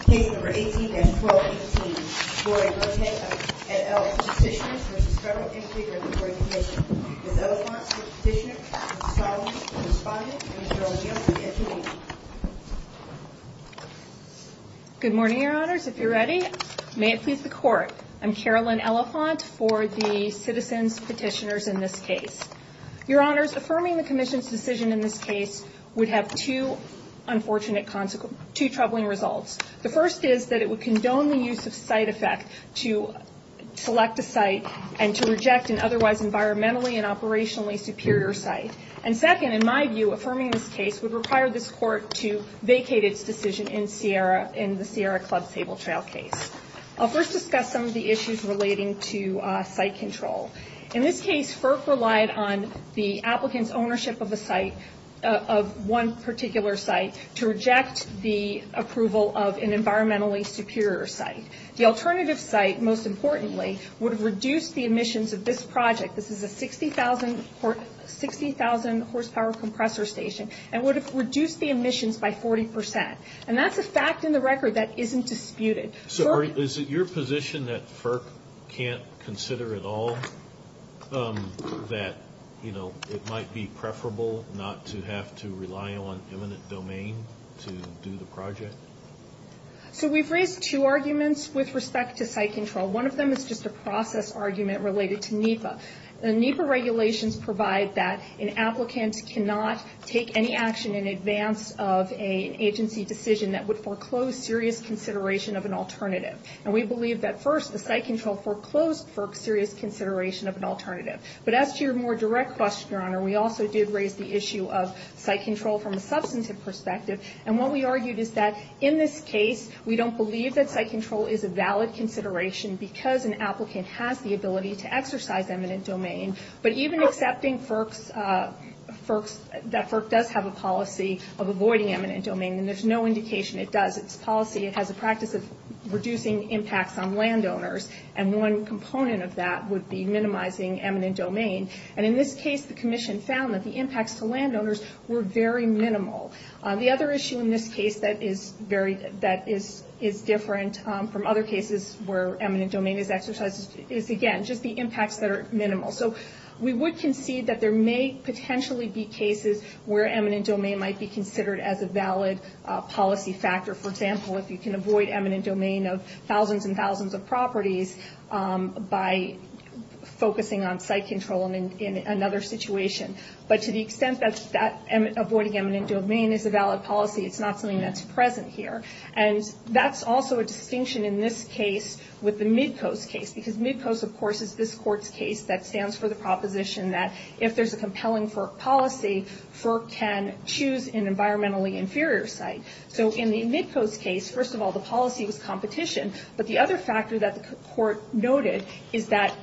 Case No. 18-1218. Lori Birkhead v. Elephant Petitioners v. Federal Energy Regulatory Commission. Ms. Elephant is the petitioner, Ms. Solomon is the respondent, and Ms. Jones-Young is the interviewee. Good morning, Your Honors. If you're ready, may it please the Court. I'm Carolyn Elephant for the Citizens Petitioners in this case. Your Honors, affirming the Commission's decision in this case would have two unfortunate, two troubling results. The first is that it would condone the use of site effect to select a site and to reject an otherwise environmentally and operationally superior site. And second, in my view, affirming this case would require this Court to vacate its decision in the Sierra Club Sable Trail case. I'll first discuss some of the issues relating to site control. In this case, FERC relied on the applicant's ownership of a site, of one particular site, to reject the approval of an environmentally superior site. The alternative site, most importantly, would have reduced the emissions of this project, this is a 60,000 horsepower compressor station, and would have reduced the emissions by 40 percent. And that's a fact in the record that isn't disputed. So is it your position that FERC can't consider at all that, you know, it might be preferable not to have to rely on eminent domain to do the project? So we've raised two arguments with respect to site control. One of them is just a process argument related to NEPA. The NEPA regulations provide that an applicant cannot take any action in advance of an agency decision that would foreclose serious consideration of an alternative. And we believe that, first, the site control foreclosed FERC's serious consideration of an alternative. But as to your more direct question, Your Honor, we also did raise the issue of site control from a substantive perspective. And what we argued is that, in this case, we don't believe that site control is a valid consideration because an applicant has the ability to exercise eminent domain. But even accepting that FERC does have a policy of avoiding eminent domain, then there's no indication it does. It's a policy, it has a practice of reducing impacts on landowners, and one component of that would be minimizing eminent domain. And in this case, the Commission found that the impacts to landowners were very minimal. The other issue in this case that is different from other cases where eminent domain is exercised is, again, just the impacts that are minimal. So we would concede that there may potentially be cases where eminent domain might be considered as a valid policy factor. For example, if you can avoid eminent domain of thousands and thousands of properties by focusing on site control in another situation. But to the extent that avoiding eminent domain is a valid policy, it's not something that's present here. And that's also a distinction in this case with the Midcoast case. Because Midcoast, of course, is this Court's case that stands for the proposition that if there's a compelling FERC policy, FERC can choose an environmentally inferior site. So in the Midcoast case, first of all, the policy was competition. But the other factor that the Court noted is that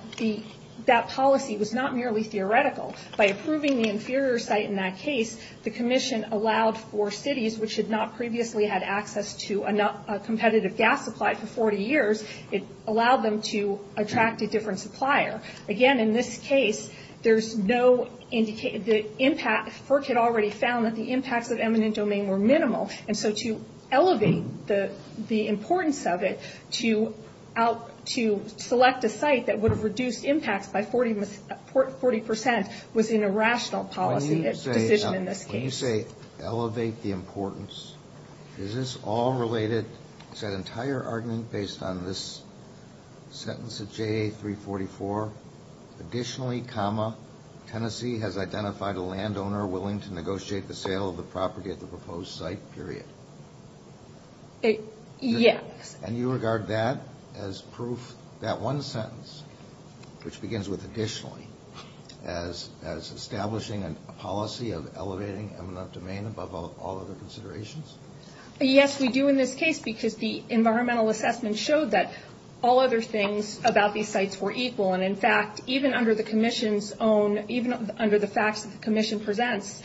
that policy was not merely theoretical. By approving the inferior site in that case, the Commission allowed for cities which had not previously had access to a competitive gas supply for 40 years, it allowed them to attract a different supplier. Again, in this case, there's no indication that FERC had already found that the impacts of eminent domain were minimal. And so to elevate the importance of it, to select a site that would have reduced impacts by 40% was an irrational policy decision in this case. When you say elevate the importance, is this all related? Is that entire argument based on this sentence of JA 344? Additionally, Tennessee has identified a landowner willing to negotiate the sale of the property at the proposed site, period. Yes. And you regard that as proof, that one sentence, which begins with additionally, as establishing a policy of elevating eminent domain above all other considerations? Yes, we do in this case, because the environmental assessment showed that all other things about these sites were equal. And, in fact, even under the Commission's own, even under the facts that the Commission presents,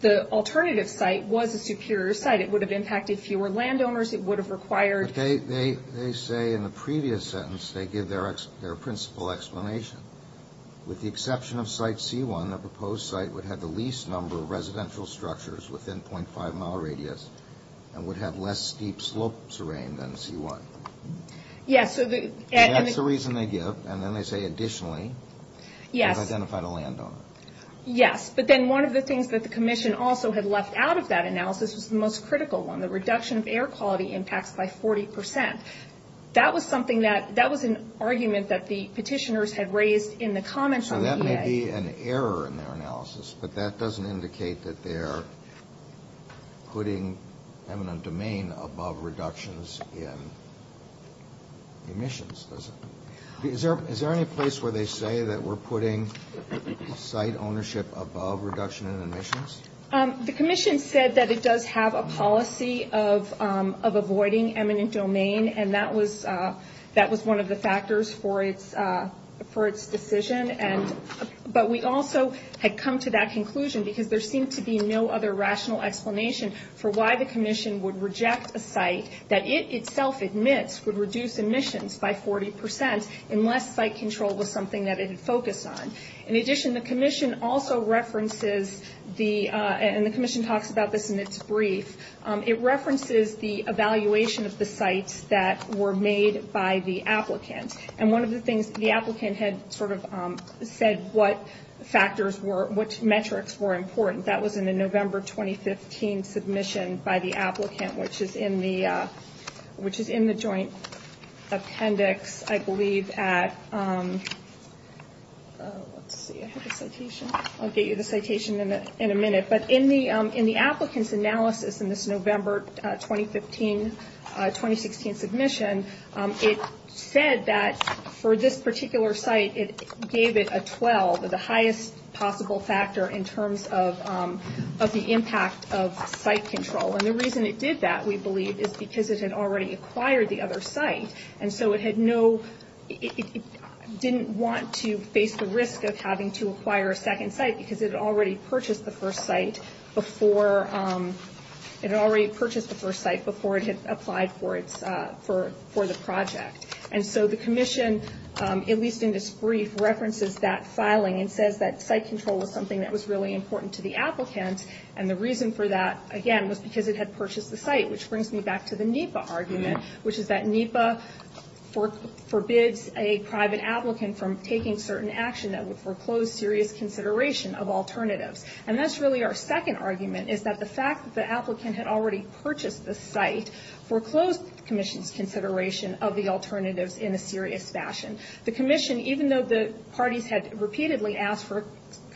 the alternative site was a superior site. It would have impacted fewer landowners. It would have required. They say in the previous sentence, they give their principal explanation. With the exception of site C1, the proposed site would have the least number of residential structures within 0.5-mile radius and would have less steep slopes arraigned than C1. Yes. That's the reason they give, and then they say additionally, they've identified a landowner. Yes. But then one of the things that the Commission also had left out of that analysis was the most critical one, the reduction of air quality impacts by 40%. That was an argument that the petitioners had raised in the comments on the EA. There may be an error in their analysis, but that doesn't indicate that they're putting eminent domain above reductions in emissions, does it? Is there any place where they say that we're putting site ownership above reduction in emissions? The Commission said that it does have a policy of avoiding eminent domain, and that was one of the factors for its decision. But we also had come to that conclusion because there seemed to be no other rational explanation for why the Commission would reject a site that it itself admits would reduce emissions by 40% unless site control was something that it had focused on. In addition, the Commission also references the, and the Commission talks about this in its brief, it references the evaluation of the sites that were made by the applicant. And one of the things, the applicant had sort of said what factors were, what metrics were important. That was in the November 2015 submission by the applicant, which is in the joint appendix, I believe, at, let's see, I have a citation. I'll get you the citation in a minute. But in the applicant's analysis in this November 2015-2016 submission, it said that for this particular site, it gave it a 12, the highest possible factor in terms of the impact of site control. And the reason it did that, we believe, is because it had already acquired the other site. And so it had no, it didn't want to face the risk of having to acquire a second site because it had already purchased the first site before, it had already purchased the first site before it had applied for the project. And so the Commission, at least in this brief, references that filing and says that site control was something that was really important to the applicant. And the reason for that, again, was because it had purchased the site, which brings me back to the NEPA argument, which is that NEPA forbids a private applicant from taking certain action that would foreclose serious consideration of alternatives. And that's really our second argument, is that the fact that the applicant had already purchased the site foreclosed the Commission's consideration of the alternatives in a serious fashion. The Commission, even though the parties had repeatedly asked for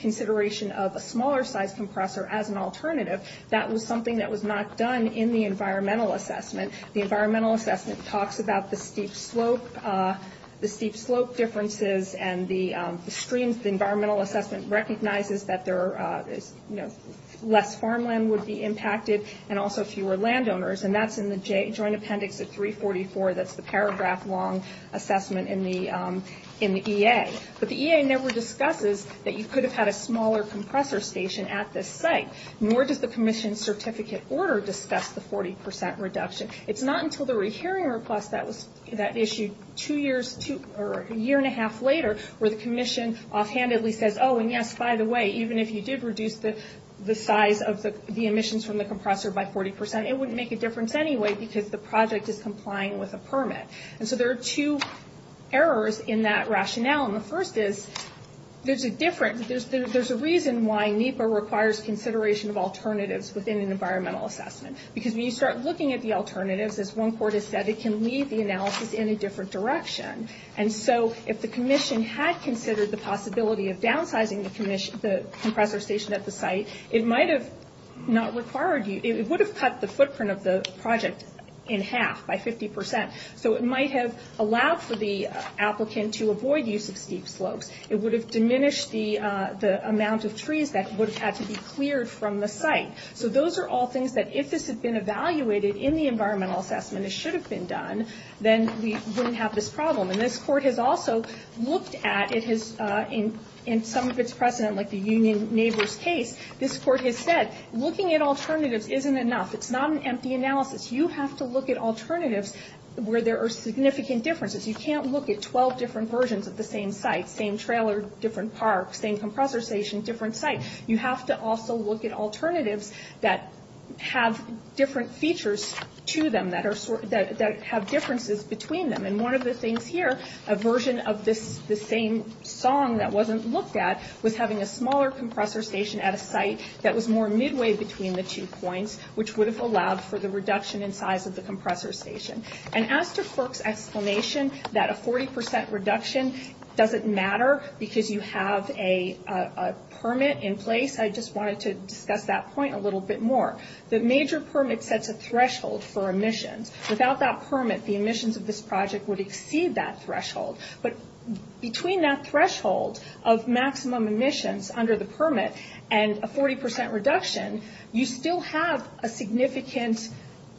consideration of a smaller-sized compressor as an alternative, that was something that was not done in the environmental assessment. The environmental assessment talks about the steep slope, the steep slope differences and the streams. The environmental assessment recognizes that there is, you know, less farmland would be impacted and also fewer landowners. And that's in the Joint Appendix at 344, that's the paragraph-long assessment in the EA. But the EA never discusses that you could have had a smaller compressor station at this site, nor does the Commission's certificate order discuss the 40 percent reduction. It's not until the rehearing request that issued a year and a half later where the Commission offhandedly says, oh, and yes, by the way, even if you did reduce the size of the emissions from the compressor by 40 percent, it wouldn't make a difference anyway because the project is complying with a permit. There's a reason why NEPA requires consideration of alternatives within an environmental assessment. Because when you start looking at the alternatives, as one court has said, it can lead the analysis in a different direction. And so if the Commission had considered the possibility of downsizing the compressor station at the site, it might have not required you, it would have cut the footprint of the project in half by 50 percent. So it might have allowed for the applicant to avoid use of steep slopes. It would have diminished the amount of trees that would have had to be cleared from the site. So those are all things that if this had been evaluated in the environmental assessment, it should have been done, then we wouldn't have this problem. And this court has also looked at, in some of its precedent, like the Union Neighbors case, this court has said, looking at alternatives isn't enough. It's not an empty analysis. You have to look at alternatives where there are significant differences. You can't look at 12 different versions of the same site, same trailer, different park, same compressor station, different site. You have to also look at alternatives that have different features to them, that have differences between them. And one of the things here, a version of this same song that wasn't looked at, was having a smaller compressor station at a site that was more midway between the two points, which would have allowed for the reduction in size of the compressor station. And as to FERC's explanation that a 40 percent reduction doesn't matter because you have a permit in place, I just wanted to discuss that point a little bit more. The major permit sets a threshold for emissions. Without that permit, the emissions of this project would exceed that threshold. But between that threshold of maximum emissions under the permit and a 40 percent reduction, you still have a significant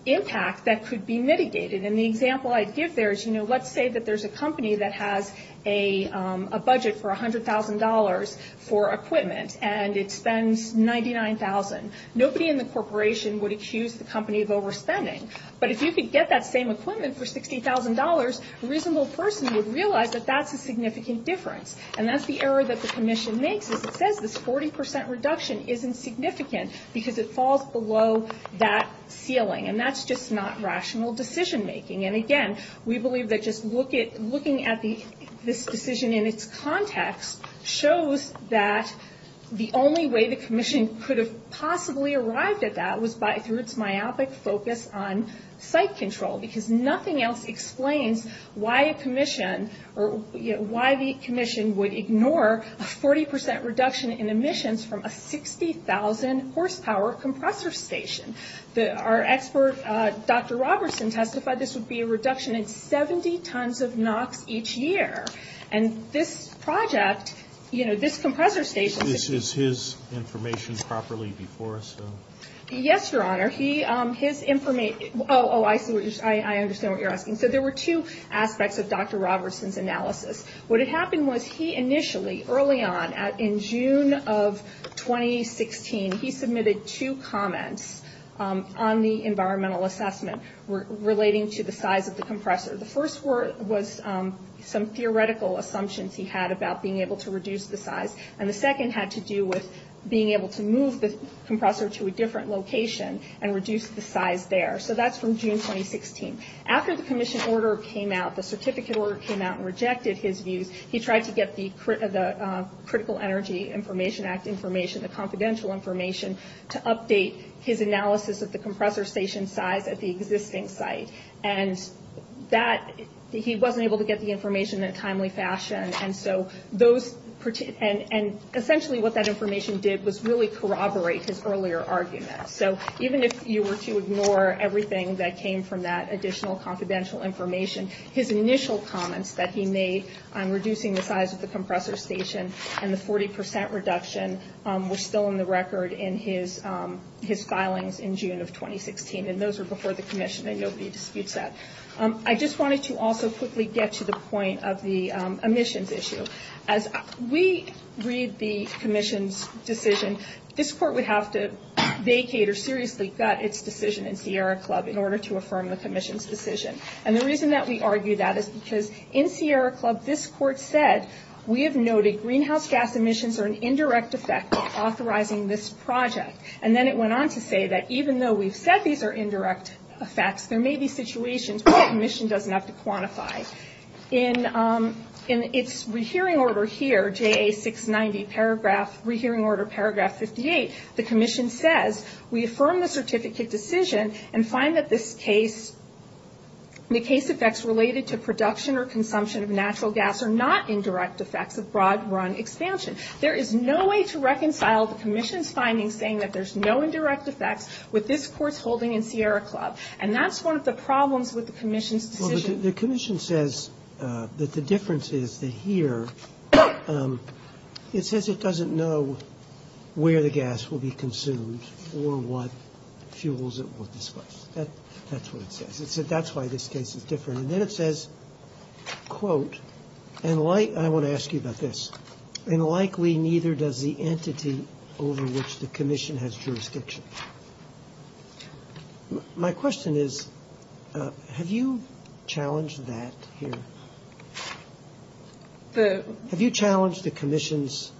impact that could be mitigated. And the example I give there is, you know, let's say that there's a company that has a budget for $100,000 for equipment, and it spends $99,000. Nobody in the corporation would accuse the company of overspending. But if you could get that same equipment for $60,000, a reasonable person would realize that that's a significant difference. And that's the error that the commission makes. As it says, this 40 percent reduction isn't significant because it falls below that ceiling. And that's just not rational decision making. And again, we believe that just looking at this decision in its context shows that the only way the commission could have possibly arrived at that was through its myopic focus on site control, because nothing else explains why a commission or why the commission would ignore a 40 percent reduction in emissions from a 60,000 horsepower compressor station. Our expert, Dr. Robertson, testified this would be a reduction in 70 tons of NOx each year. And this project, you know, this compressor station. Is his information properly before us? Yes, Your Honor. Oh, I understand what you're asking. So there were two aspects of Dr. Robertson's analysis. What had happened was he initially, early on, in June of 2016, he submitted two comments on the environmental assessment relating to the size of the compressor. The first was some theoretical assumptions he had about being able to reduce the size. And the second had to do with being able to move the compressor to a different location and reduce the size there. So that's from June 2016. After the commission order came out, the certificate order came out and rejected his views, he tried to get the Critical Energy Information Act information, the confidential information, to update his analysis of the compressor station size at the existing site. And he wasn't able to get the information in a timely fashion. And so those, and essentially what that information did was really corroborate his earlier argument. So even if you were to ignore everything that came from that additional confidential information, his initial comments that he made on reducing the size of the compressor station and the 40% reduction were still in the record in his filings in June of 2016. And those were before the commission, and nobody disputes that. I just wanted to also quickly get to the point of the emissions issue. As we read the commission's decision, this court would have to vacate or seriously gut its decision in Sierra Club in order to affirm the commission's decision. And the reason that we argue that is because in Sierra Club this court said, we have noted greenhouse gas emissions are an indirect effect of authorizing this project. And then it went on to say that even though we've said these are indirect effects, there may be situations where the commission doesn't have to quantify. In its rehearing order here, JA 690 paragraph, rehearing order paragraph 58, the commission says, we affirm the certificate decision and find that this case, the case effects related to production or consumption of natural gas are not indirect effects of broad run expansion. There is no way to reconcile the commission's findings saying that there's no indirect effects with this court's holding in Sierra Club. And that's one of the problems with the commission's decision. Roberts. The commission says that the difference is that here it says it doesn't know where the gas will be consumed or what fuels it will displace. That's what it says. That's why this case is different. And then it says, quote, and I want to ask you about this, and likely neither does the entity over which the commission has jurisdiction. My question is, have you challenged that here? Have you challenged the commission's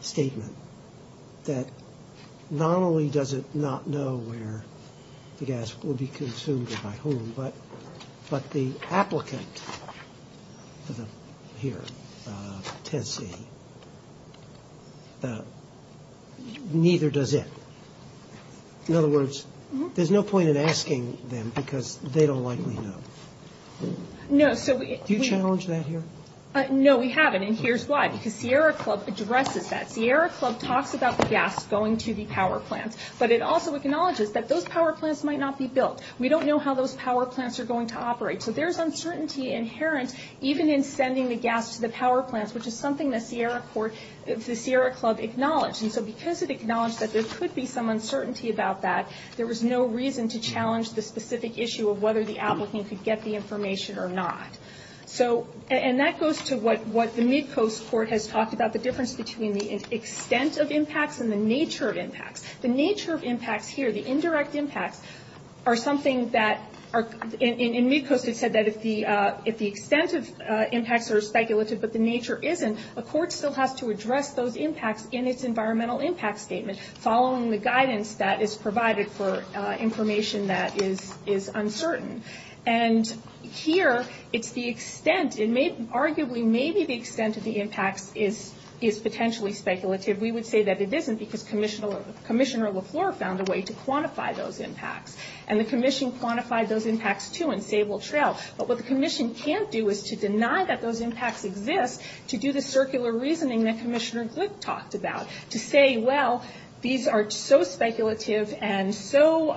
statement that not only does it not know where the gas will be consumed but the applicant here, Tessie, neither does it. In other words, there's no point in asking them because they don't likely know. Do you challenge that here? No, we haven't, and here's why. Because Sierra Club addresses that. Sierra Club talks about the gas going to the power plants, but it also acknowledges that those power plants might not be built. We don't know how those power plants are going to operate. So there's uncertainty inherent even in sending the gas to the power plants, which is something the Sierra Club acknowledged. And so because it acknowledged that there could be some uncertainty about that, there was no reason to challenge the specific issue of whether the applicant could get the information or not. And that goes to what the Mid-Coast Court has talked about, the difference between the extent of impacts and the nature of impacts. The nature of impacts here, the indirect impacts, are something that are – in Mid-Coast it said that if the extent of impacts are speculative but the nature isn't, a court still has to address those impacts in its environmental impact statement, following the guidance that is provided for information that is uncertain. And here it's the extent, and arguably maybe the extent of the impacts is potentially speculative. We would say that it isn't because Commissioner LaFleur found a way to quantify those impacts, and the commission quantified those impacts too in Sable Trail. But what the commission can't do is to deny that those impacts exist to do the circular reasoning that Commissioner Glick talked about, to say, well, these are so speculative and so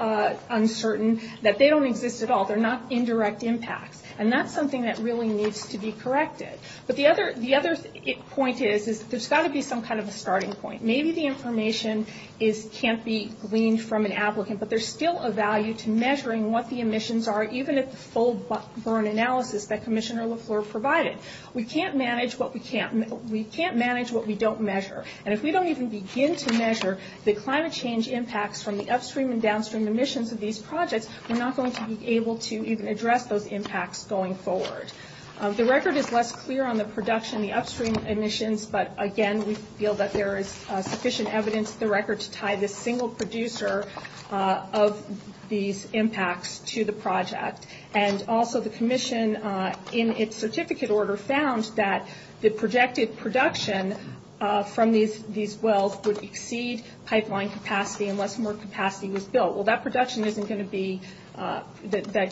uncertain that they don't exist at all. They're not indirect impacts. And that's something that really needs to be corrected. But the other point is that there's got to be some kind of a starting point. Maybe the information can't be gleaned from an applicant, but there's still a value to measuring what the emissions are, even at the full burn analysis that Commissioner LaFleur provided. We can't manage what we don't measure. And if we don't even begin to measure the climate change impacts from the upstream and downstream emissions of these projects, we're not going to be able to even address those impacts going forward. The record is less clear on the production, the upstream emissions, but, again, we feel that there is sufficient evidence in the record to tie this single producer of these impacts to the project. And also the commission, in its certificate order, found that the projected production from these wells would exceed pipeline capacity unless more capacity was built. Well, that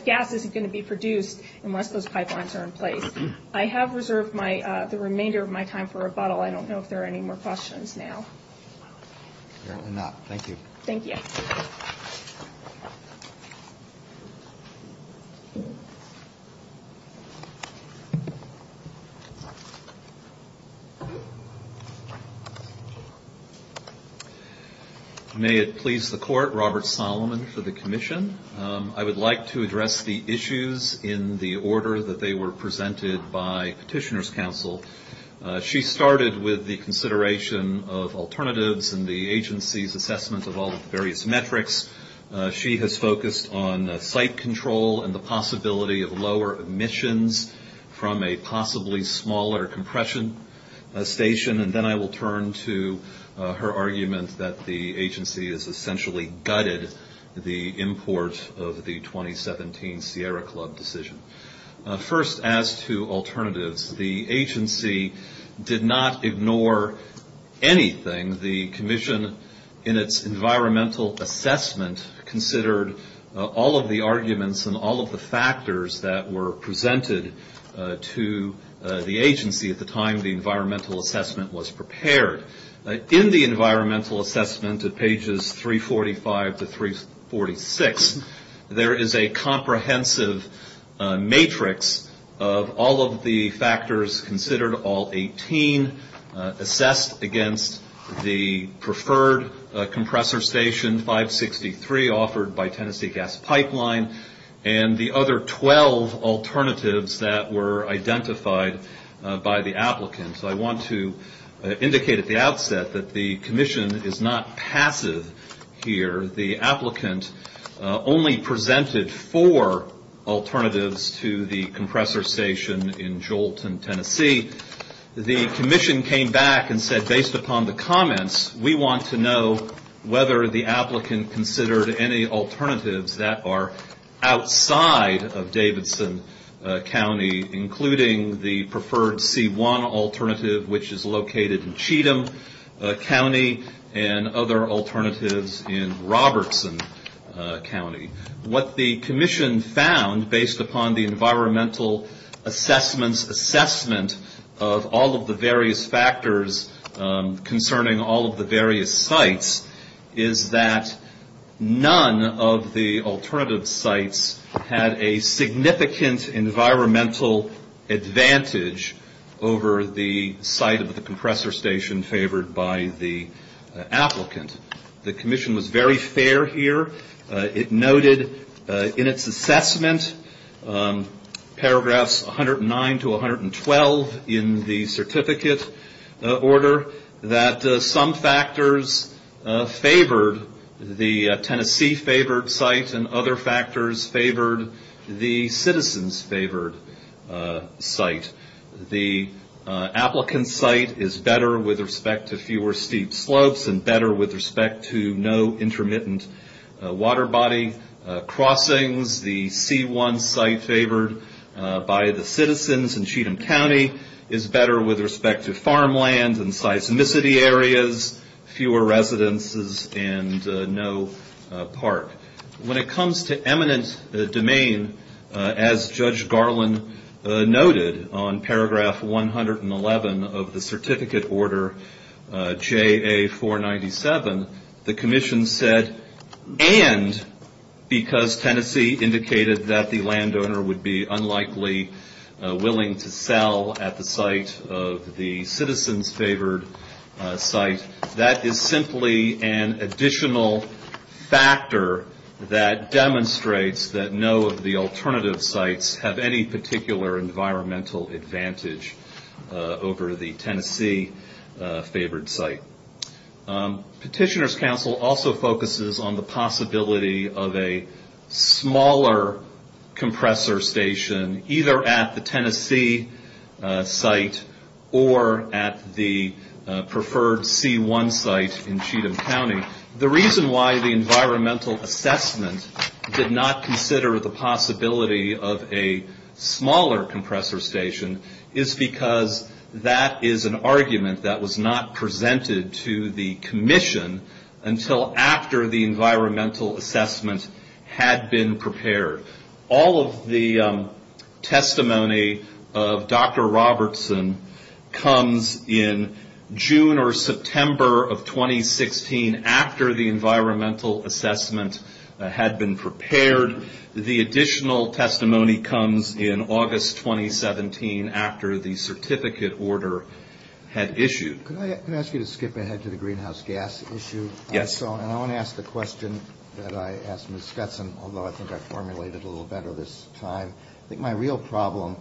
gas isn't going to be produced unless those pipelines are in place. I have reserved the remainder of my time for rebuttal. I don't know if there are any more questions now. Apparently not. Thank you. Thank you. Thank you. May it please the court, Robert Solomon for the commission. I would like to address the issues in the order that they were presented by Petitioner's Council. She started with the consideration of alternatives and the agency's assessment of all the various metrics. She has focused on site control and the possibility of lower emissions from a possibly smaller compression station. And then I will turn to her argument that the agency has essentially gutted the import of the 2017 Sierra Club decision. First, as to alternatives, the agency did not ignore anything and the commission, in its environmental assessment, considered all of the arguments and all of the factors that were presented to the agency at the time the environmental assessment was prepared. In the environmental assessment at pages 345 to 346, there is a comprehensive matrix of all of the factors considered, all 18 assessed against the preferred compressor station, 563 offered by Tennessee Gas Pipeline, and the other 12 alternatives that were identified by the applicant. So I want to indicate at the outset that the commission is not passive here. The applicant only presented four alternatives to the compressor station in Jolton, Tennessee. The commission came back and said, based upon the comments, we want to know whether the applicant considered any alternatives that are outside of Davidson County, including the preferred C1 alternative, which is located in Cheatham County, and other alternatives in Robertson County. What the commission found, based upon the environmental assessment's assessment of all of the various factors concerning all of the various sites, is that none of the alternative sites had a significant environmental advantage over the site of the compressor station favored by the applicant. The commission was very fair here. It noted in its assessment, paragraphs 109 to 112 in the certificate order, that some factors favored the Tennessee favored site, and other factors favored the citizens favored site. The applicant site is better with respect to fewer steep slopes, and better with respect to no intermittent water body crossings. The C1 site favored by the citizens in Cheatham County is better with respect to farmland and seismicity areas, fewer residences, and no park. When it comes to eminent domain, as Judge Garland noted on paragraph 111 of the certificate order, JA 497, the commission said, and because Tennessee indicated that the landowner would be unlikely willing to sell at the site of the citizens favored site, that is simply an additional factor that demonstrates that no of the alternative sites have any particular environmental advantage over the Tennessee favored site. Petitioner's counsel also focuses on the possibility of a smaller compressor station, either at the Tennessee site or at the preferred C1 site in Cheatham County. The reason why the environmental assessment did not consider the possibility of a smaller compressor station is because that is an argument that was not presented to the commission until after the environmental assessment had been prepared. All of the testimony of Dr. Robertson comes in June or September of 2016 after the environmental assessment had been prepared. The additional testimony comes in August 2017 after the certificate order had issued. Can I ask you to skip ahead to the greenhouse gas issue? Yes. I want to ask the question that I asked Ms. Skutson, although I think I formulated it a little better this time. I think my real problem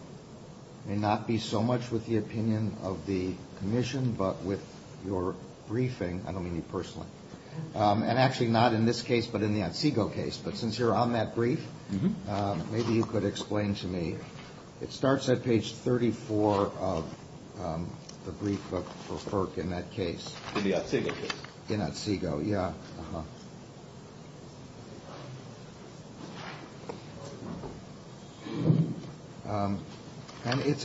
may not be so much with the opinion of the commission, but with your briefing, I don't mean you personally, and actually not in this case, but in the Otsego case. But since you're on that brief, maybe you could explain to me. It starts at page 34 of the brief for FERC in that case. In the Otsego case. In Otsego, yes.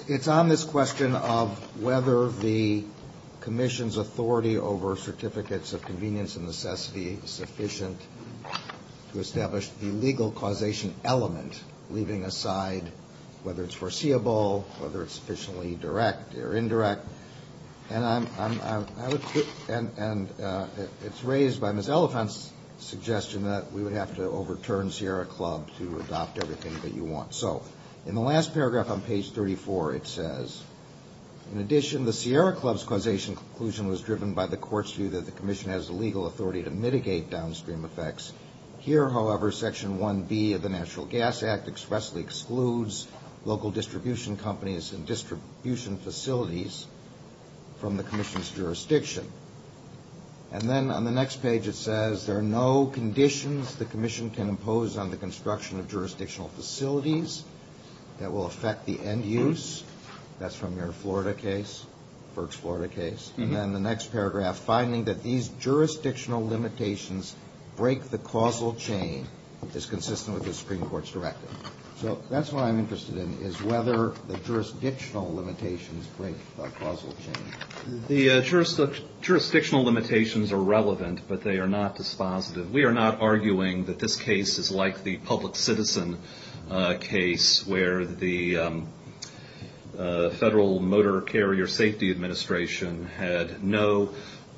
It's on this question of whether the commission's authority over certificates of convenience and necessity is sufficient to establish the legal causation element, leaving aside whether it's foreseeable, whether it's sufficiently direct or indirect. And it's raised by Ms. Elephant's suggestion that we would have to overturn Sierra Club to adopt everything that you want. So in the last paragraph on page 34, it says, in addition the Sierra Club's causation conclusion was driven by the court's view that the commission has the legal authority to mitigate downstream effects. Here, however, Section 1B of the Natural Gas Act expressly excludes local distribution companies and distribution facilities from the commission's jurisdiction. And then on the next page it says there are no conditions the commission can impose on the construction of jurisdictional facilities that will affect the end use. That's from your Florida case, FERC's Florida case. And then the next paragraph, finding that these jurisdictional limitations break the causal chain is consistent with the Supreme Court's directive. So that's what I'm interested in, is whether the jurisdictional limitations break a causal chain. The jurisdictional limitations are relevant, but they are not dispositive. We are not arguing that this case is like the public citizen case where the Federal Motor Carrier Safety Administration had no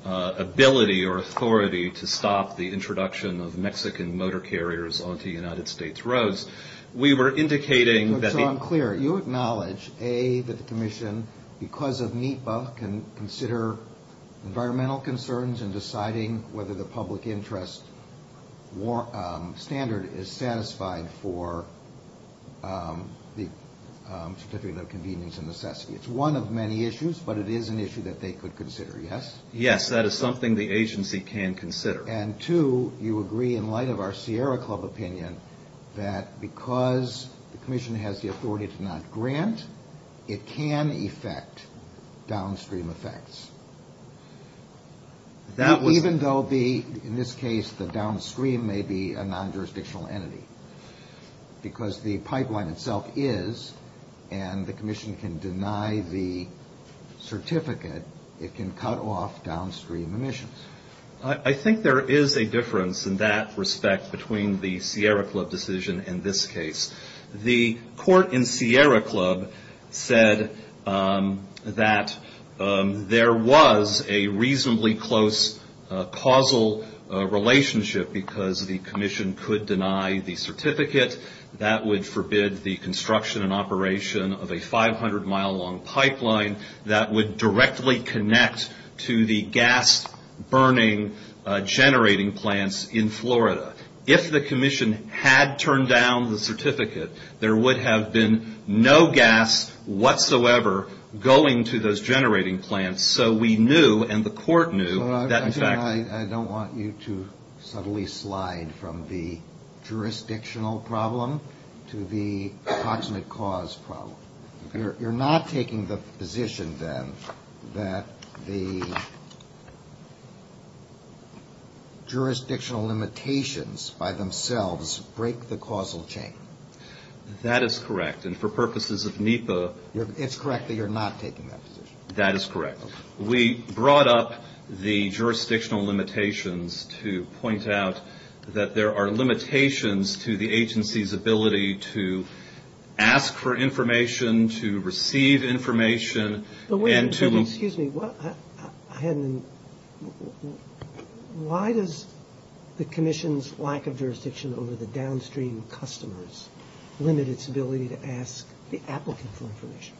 ability or authority to stop the introduction of Mexican motor carriers onto United States roads. We were indicating that the- So I'm clear. You acknowledge, A, that the commission, because of NEPA, can consider environmental concerns in deciding whether the public interest standard is satisfied for the certificate of convenience and necessity. It's one of many issues, but it is an issue that they could consider, yes? Yes, that is something the agency can consider. And two, you agree, in light of our Sierra Club opinion, that because the commission has the authority to not grant, it can affect downstream effects. That was- Even though the, in this case, the downstream may be a non-jurisdictional entity. Because the pipeline itself is, and the commission can deny the certificate, it can cut off downstream emissions. I think there is a difference in that respect between the Sierra Club decision and this case. The court in Sierra Club said that there was a reasonably close causal relationship because the commission could deny the certificate. That would forbid the construction and operation of a 500-mile-long pipeline that would directly connect to the gas-burning generating plants in Florida. If the commission had turned down the certificate, there would have been no gas whatsoever going to those generating plants. So we knew, and the court knew, that in fact- I don't want you to subtly slide from the jurisdictional problem to the approximate cause problem. You're not taking the position, then, that the jurisdictional limitations by themselves break the causal chain. That is correct, and for purposes of NEPA- It's correct that you're not taking that position. That is correct. We brought up the jurisdictional limitations to point out that there are limitations to the agency's ability to ask for information, to receive information, and to- But wait a second. Excuse me. Why does the commission's lack of jurisdiction over the downstream customers limit its ability to ask the applicant for information?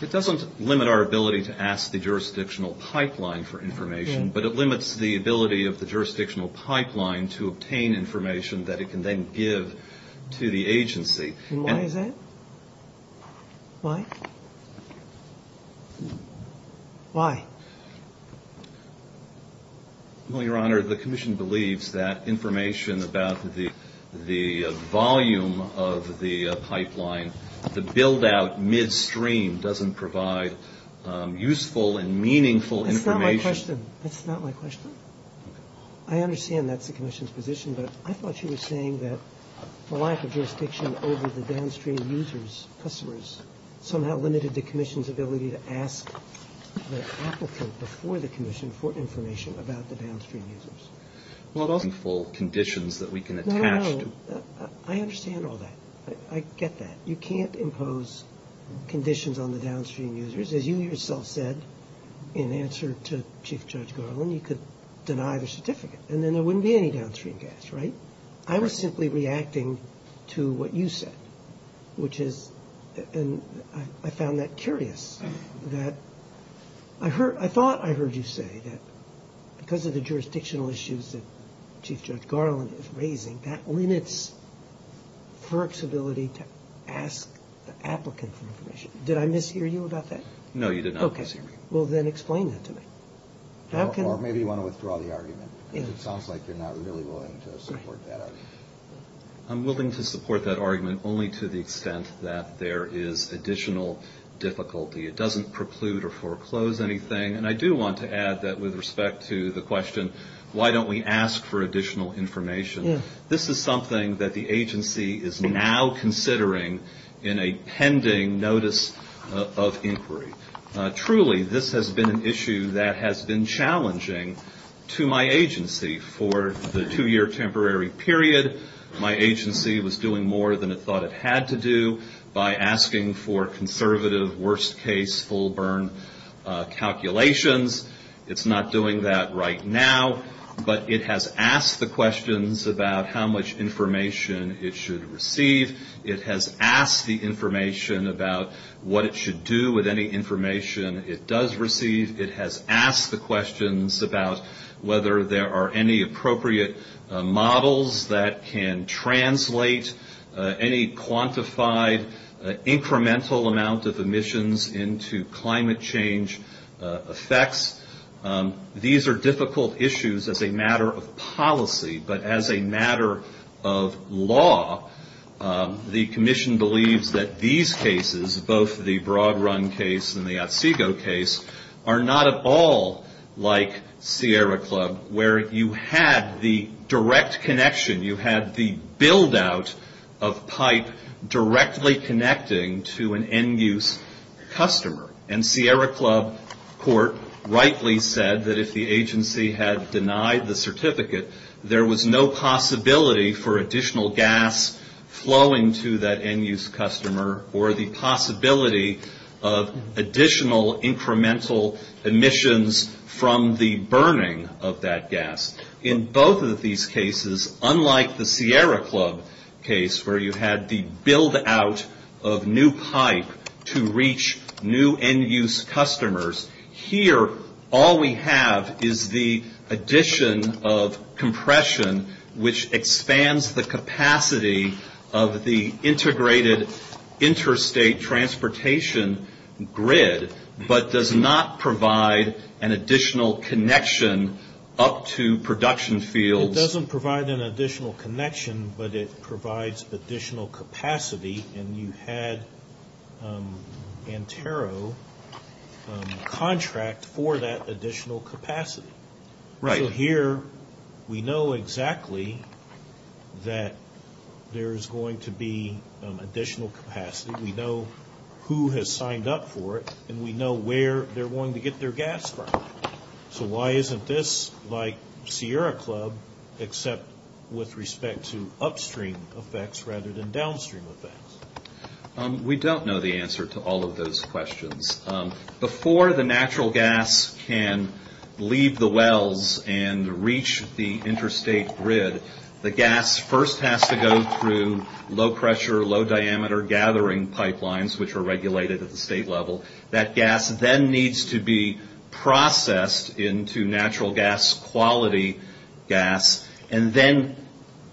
It doesn't limit our ability to ask the jurisdictional pipeline for information, but it limits the ability of the jurisdictional pipeline to obtain information that it can then give to the agency. And why is that? Why? Why? Well, Your Honor, the commission believes that information about the volume of the pipeline, the build-out midstream, doesn't provide useful and meaningful information. That's not my question. That's not my question. I understand that's the commission's position, but I thought you were saying that the lack of jurisdiction over the downstream users, customers, somehow limited the commission's ability to ask the applicant before the commission for information about the downstream users. Well, those are meaningful conditions that we can attach to. No. I understand all that. I get that. You can't impose conditions on the downstream users. As you yourself said in answer to Chief Judge Garland, you could deny the certificate, and then there wouldn't be any downstream gas, right? Right. I was simply reacting to what you said, which is – and I found that curious. I thought I heard you say that because of the jurisdictional issues that Chief Judge Garland is raising, that limits FERC's ability to ask the applicant for information. Did I mishear you about that? No, you did not mishear me. Okay. Well, then explain that to me. Or maybe you want to withdraw the argument, because it sounds like you're not really willing to support that argument. I'm willing to support that argument only to the extent that there is additional difficulty. It doesn't preclude or foreclose anything. And I do want to add that with respect to the question, why don't we ask for additional information, this is something that the agency is now considering in a pending notice of inquiry. Truly, this has been an issue that has been challenging to my agency for the two-year temporary period. My agency was doing more than it thought it had to do by asking for conservative, worst-case, full-burn calculations. It's not doing that right now, but it has asked the questions about how much information it should receive. It has asked the information about what it should do with any information it does receive. It has asked the questions about whether there are any appropriate models that can translate any quantified, incremental amount of emissions into climate change effects. These are difficult issues as a matter of policy, but as a matter of law, the commission believes that these cases, both the Broad Run case and the Otsego case, are not at all like Sierra Club, where you had the direct connection, you had the build-out of pipe directly connecting to an end-use customer. And Sierra Club court rightly said that if the agency had denied the certificate, there was no possibility for additional gas flowing to that end-use customer, or the possibility of additional incremental emissions from the burning of that gas. In both of these cases, unlike the Sierra Club case, where you had the build-out of new pipe to reach new end-use customers, here all we have is the addition of compression, which expands the capacity of the integrated interstate transportation grid, but does not provide an additional connection up to production fields. It doesn't provide an additional connection, but it provides additional capacity, and you had Antero contract for that additional capacity. So here we know exactly that there is going to be additional capacity. We know who has signed up for it, and we know where they're going to get their gas from. So why isn't this like Sierra Club, except with respect to upstream effects rather than downstream effects? We don't know the answer to all of those questions. Before the natural gas can leave the wells and reach the interstate grid, the gas first has to go through low-pressure, low-diameter gathering pipelines, which are regulated at the state level. That gas then needs to be processed into natural gas quality gas, and then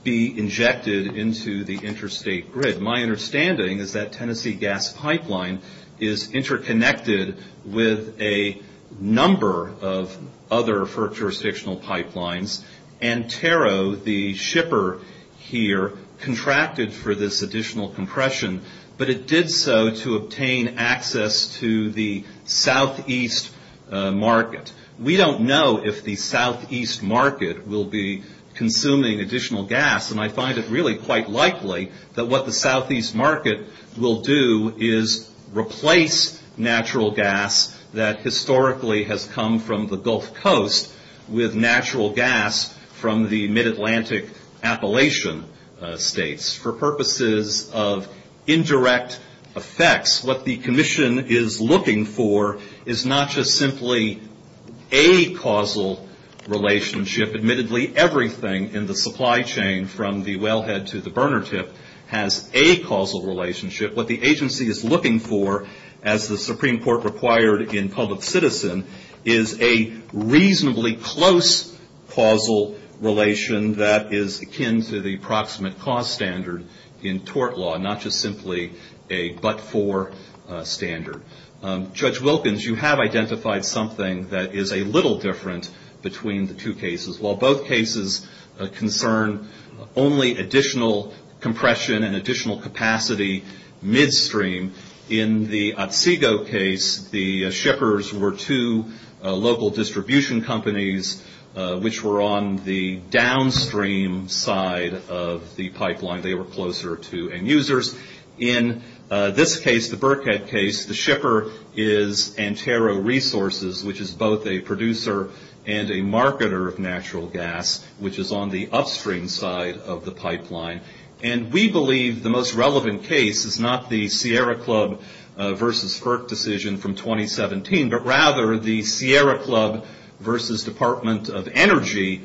be injected into the interstate grid. My understanding is that Tennessee gas pipeline is interconnected with a number of other further jurisdictional pipelines. Antero, the shipper here, contracted for this additional compression, but it did so to obtain access to the southeast market. We don't know if the southeast market will be consuming additional gas, and I find it really quite likely that what the southeast market will do is replace natural gas that historically has come from the Gulf Coast with natural gas from the mid-Atlantic Appalachian states. For purposes of indirect effects, what the commission is looking for is not just simply a causal relationship. Admittedly, everything in the supply chain from the wellhead to the burner tip has a causal relationship. What the agency is looking for, as the Supreme Court required in public citizen, is a reasonably close causal relation that is akin to the approximate cost standard in tort law, not just simply a but-for standard. Judge Wilkins, you have identified something that is a little different between the two cases. While both cases concern only additional compression and additional capacity midstream, in the Otsego case, the shippers were two local distribution companies which were on the downstream side of the pipeline. They were closer to end users. In this case, the Burkhead case, the shipper is Antero Resources, which is both a producer and a marketer of natural gas, which is on the upstream side of the pipeline. And we believe the most relevant case is not the Sierra Club versus FERC decision from 2017, but rather the Sierra Club versus Department of Energy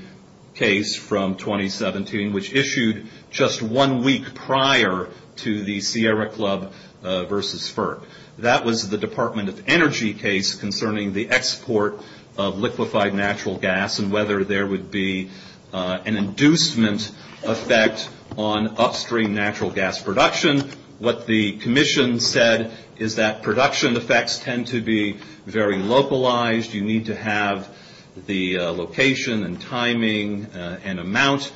case from 2017, which issued just one week prior to the Sierra Club versus FERC. That was the Department of Energy case concerning the export of liquefied natural gas and whether there would be an inducement effect on upstream natural gas production. What the commission said is that production effects tend to be very localized. You need to have the location and timing and amount.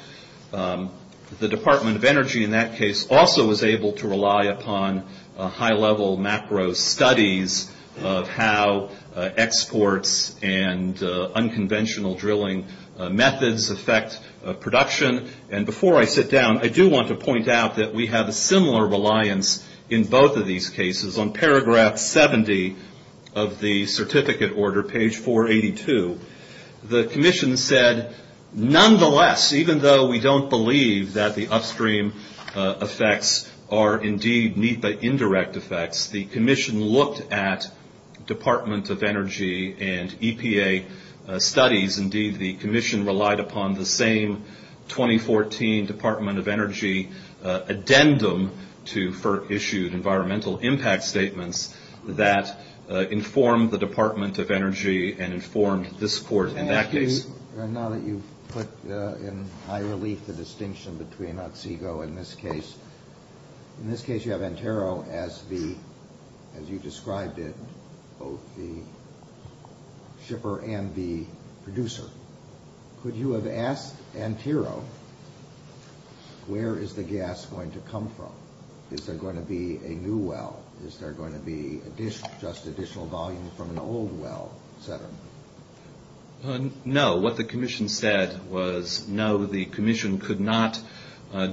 The Department of Energy in that case also was able to rely upon high-level macro studies of how exports and unconventional drilling methods affect production. And before I sit down, I do want to point out that we have a similar reliance in both of these cases. On paragraph 70 of the certificate order, page 482, the commission said, nonetheless, even though we don't believe that the upstream effects are indeed need-by-indirect effects, the commission looked at Department of Energy and EPA studies. Indeed, the commission relied upon the same 2014 Department of Energy addendum to FERC-issued environmental impact statements that informed the Department of Energy and informed this court in that case. Now that you've put in high relief the distinction between Otsego in this case, in this case you have Antero as the, as you described it, both the shipper and the producer. Could you have asked Antero where is the gas going to come from? Is there going to be a new well? Is there going to be just additional volume from an old well, et cetera? No. What the commission said was, no, the commission could not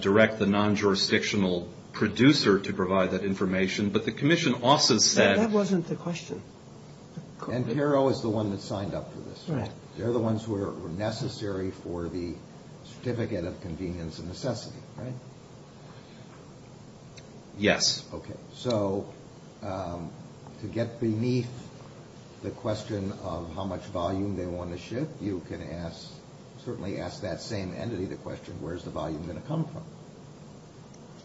direct the non-jurisdictional producer to provide that information. But the commission also said. That wasn't the question. Antero is the one that signed up for this. Correct. They're the ones who are necessary for the certificate of convenience and necessity, right? Yes. Okay. So to get beneath the question of how much volume they want to ship, you can ask, certainly ask that same entity the question, where is the volume going to come from?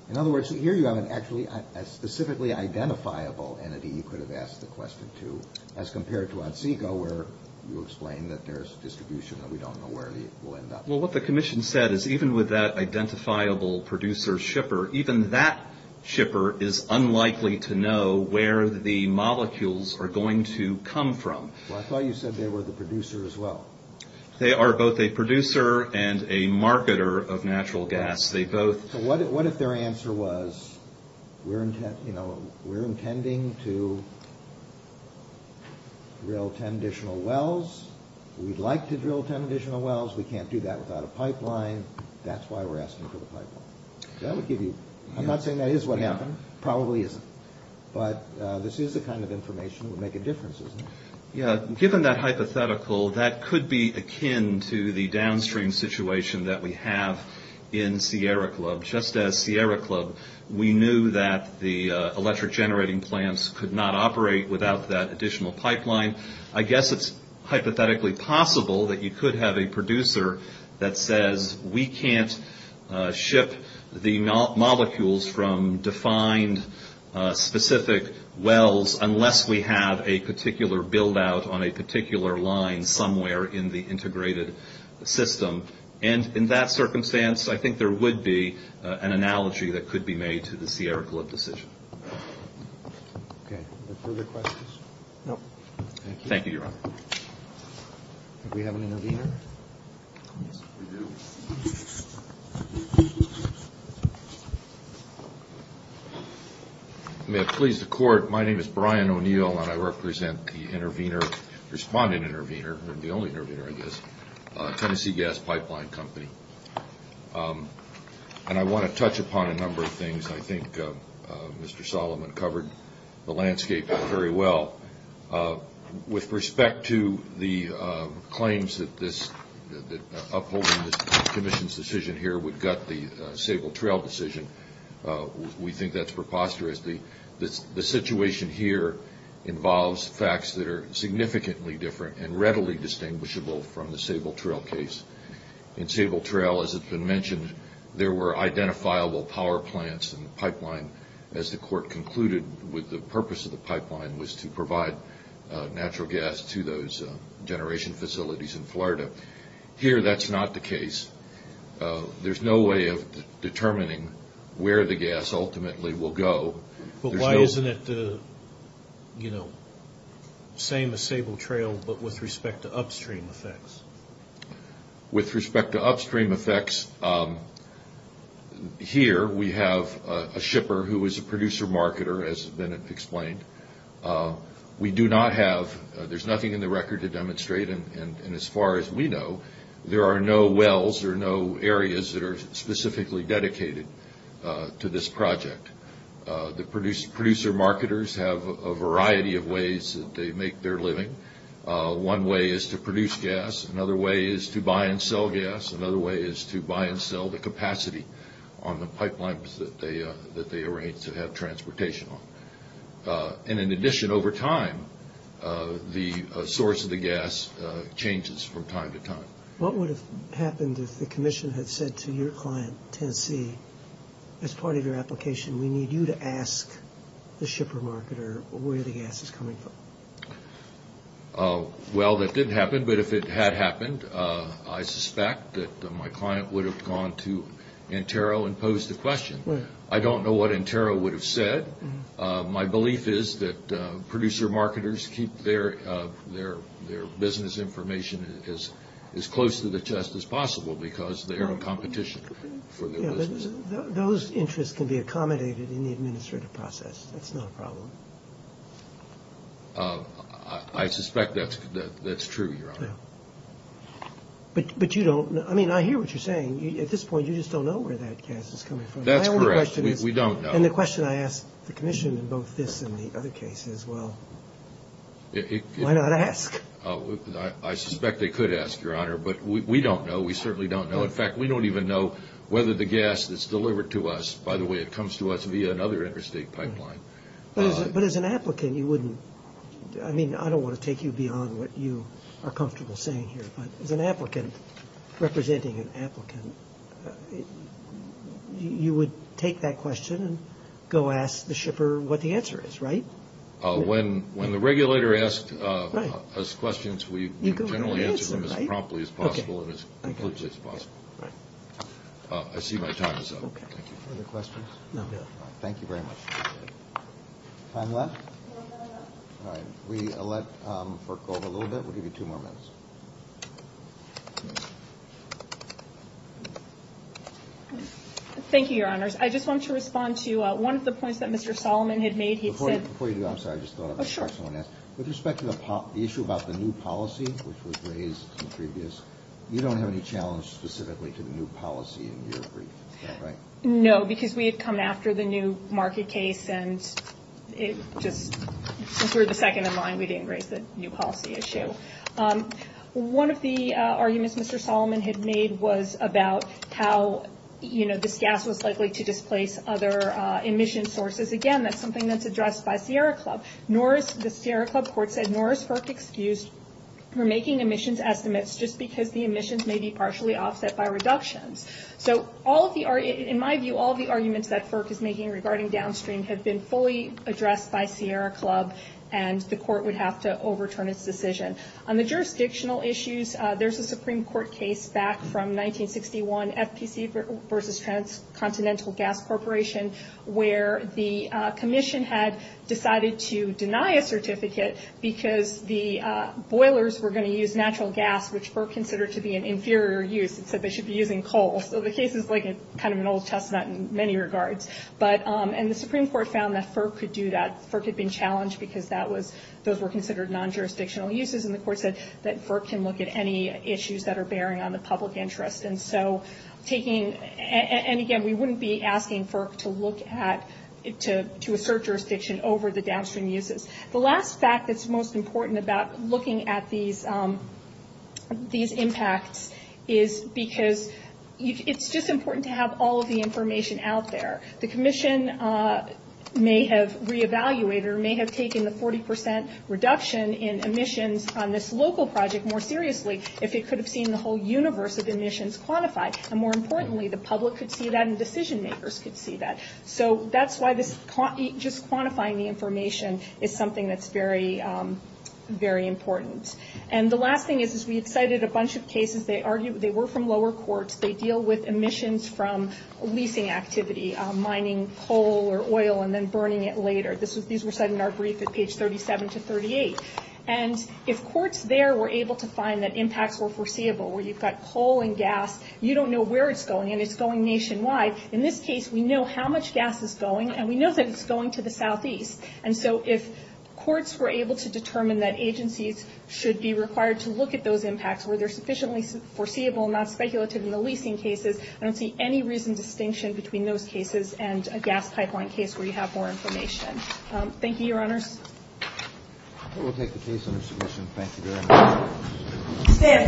In other words, here you have actually a specifically identifiable entity you could have asked the question to, as compared to Otsego where you explain that there's distribution and we don't know where it will end up. Well, what the commission said is even with that identifiable producer shipper, even that shipper is unlikely to know where the molecules are going to come from. Well, I thought you said they were the producer as well. They are both a producer and a marketer of natural gas. They both. So what if their answer was, we're intending to drill 10 additional wells. We'd like to drill 10 additional wells. We can't do that without a pipeline. That's why we're asking for the pipeline. I'm not saying that is what happened. It probably isn't. But this is the kind of information that would make a difference, isn't it? Yeah. Given that hypothetical, that could be akin to the downstream situation that we have in Sierra Club. Just as Sierra Club, we knew that the electric generating plants could not operate without that additional pipeline. I guess it's hypothetically possible that you could have a producer that says, we can't ship the molecules from defined specific wells unless we have a particular buildout on a particular line somewhere in the integrated system. And in that circumstance, I think there would be an analogy that could be made to the Sierra Club decision. Okay. Further questions? No. Thank you, Your Honor. Do we have an intervener? Yes, we do. May it please the Court, my name is Brian O'Neill, and I represent the intervener, respondent intervener, the only intervener I guess, Tennessee Gas Pipeline Company. And I want to touch upon a number of things. I think Mr. Solomon covered the landscape very well. With respect to the claims that upholding this commission's decision here would gut the Sable Trail decision, we think that's preposterous. The situation here involves facts that are significantly different and readily distinguishable from the Sable Trail case. In Sable Trail, as has been mentioned, there were identifiable power plants in the pipeline. As the Court concluded, the purpose of the pipeline was to provide natural gas to those generation facilities in Florida. Here, that's not the case. There's no way of determining where the gas ultimately will go. But why isn't it the same as Sable Trail, but with respect to upstream effects? With respect to upstream effects, here we have a shipper who is a producer marketer, as has been explained. We do not have, there's nothing in the record to demonstrate, and as far as we know, there are no wells or no areas that are specifically dedicated to this project. The producer marketers have a variety of ways that they make their living. One way is to produce gas. Another way is to buy and sell gas. Another way is to buy and sell the capacity on the pipelines that they arrange to have transportation on. In addition, over time, the source of the gas changes from time to time. What would have happened if the Commission had said to your client, Tennessee, as part of your application, we need you to ask the shipper marketer where the gas is coming from? Well, that didn't happen, but if it had happened, I suspect that my client would have gone to Antero and posed the question. I don't know what Antero would have said. My belief is that producer marketers keep their business information as close to the chest as possible because they are in competition for their business. Those interests can be accommodated in the administrative process. That's not a problem. I suspect that's true, Your Honor. But you don't, I mean, I hear what you're saying. At this point, you just don't know where that gas is coming from. That's correct. We don't know. And the question I ask the Commission in both this and the other cases, well, why not ask? I suspect they could ask, Your Honor, but we don't know. We certainly don't know. In fact, we don't even know whether the gas that's delivered to us, by the way it comes to us via another interstate pipeline. But as an applicant, you wouldn't, I mean, I don't want to take you beyond what you are comfortable saying here, but as an applicant representing an applicant, you would take that question and go ask the shipper what the answer is, right? When the regulator asks us questions, we generally answer them as promptly as possible and as completely as possible. I see my time is up. Thank you. Other questions? No. Thank you very much. Time left? All right. We let FERC go over a little bit. We'll give you two more minutes. Thank you, Your Honors. I just want to respond to one of the points that Mr. Solomon had made. He said – Before you do, I'm sorry. I just thought I'd make sure someone asked. With respect to the issue about the new policy, which was raised in the previous, you don't have any challenge specifically to the new policy in your brief. Is that right? No, because we had come after the new market case, and since we're the second in line, we didn't raise the new policy issue. One of the arguments Mr. Solomon had made was about how this gas was likely to displace other emission sources. Again, that's something that's addressed by Sierra Club. The Sierra Club court said nor is FERC excused for making emissions estimates just because the emissions may be partially offset by reductions. So in my view, all of the arguments that FERC is making regarding downstream have been fully addressed by Sierra Club, and the court would have to overturn its decision. On the jurisdictional issues, there's a Supreme Court case back from 1961, FPC versus Transcontinental Gas Corporation, where the commission had decided to deny a certificate because the boilers were going to use natural gas, which FERC considered to be an inferior use and said they should be using coal. So the case is like kind of an old testament in many regards. And the Supreme Court found that FERC could do that. FERC had been challenged because those were considered non-jurisdictional uses, and the court said that FERC can look at any issues that are bearing on the public interest. And again, we wouldn't be asking FERC to assert jurisdiction over the downstream uses. The last fact that's most important about looking at these impacts is because it's just important to have all of the information out there. The commission may have re-evaluated or may have taken the 40 percent reduction in emissions on this local project more seriously if it could have seen the whole universe of emissions quantified. And more importantly, the public could see that and decision makers could see that. So that's why just quantifying the information is something that's very, very important. And the last thing is we had cited a bunch of cases. They were from lower courts. They deal with emissions from leasing activity, mining coal or oil and then burning it later. These were cited in our brief at page 37 to 38. And if courts there were able to find that impacts were foreseeable, where you've got coal and gas, you don't know where it's going, and it's going nationwide. In this case, we know how much gas is going, and we know that it's going to the southeast. And so if courts were able to determine that agencies should be required to look at those impacts, where they're sufficiently foreseeable and not speculative in the leasing cases, I don't see any reasoned distinction between those cases and a gas pipeline case where you have more information. Thank you, Your Honors. We'll take the case under submission. Thank you very much.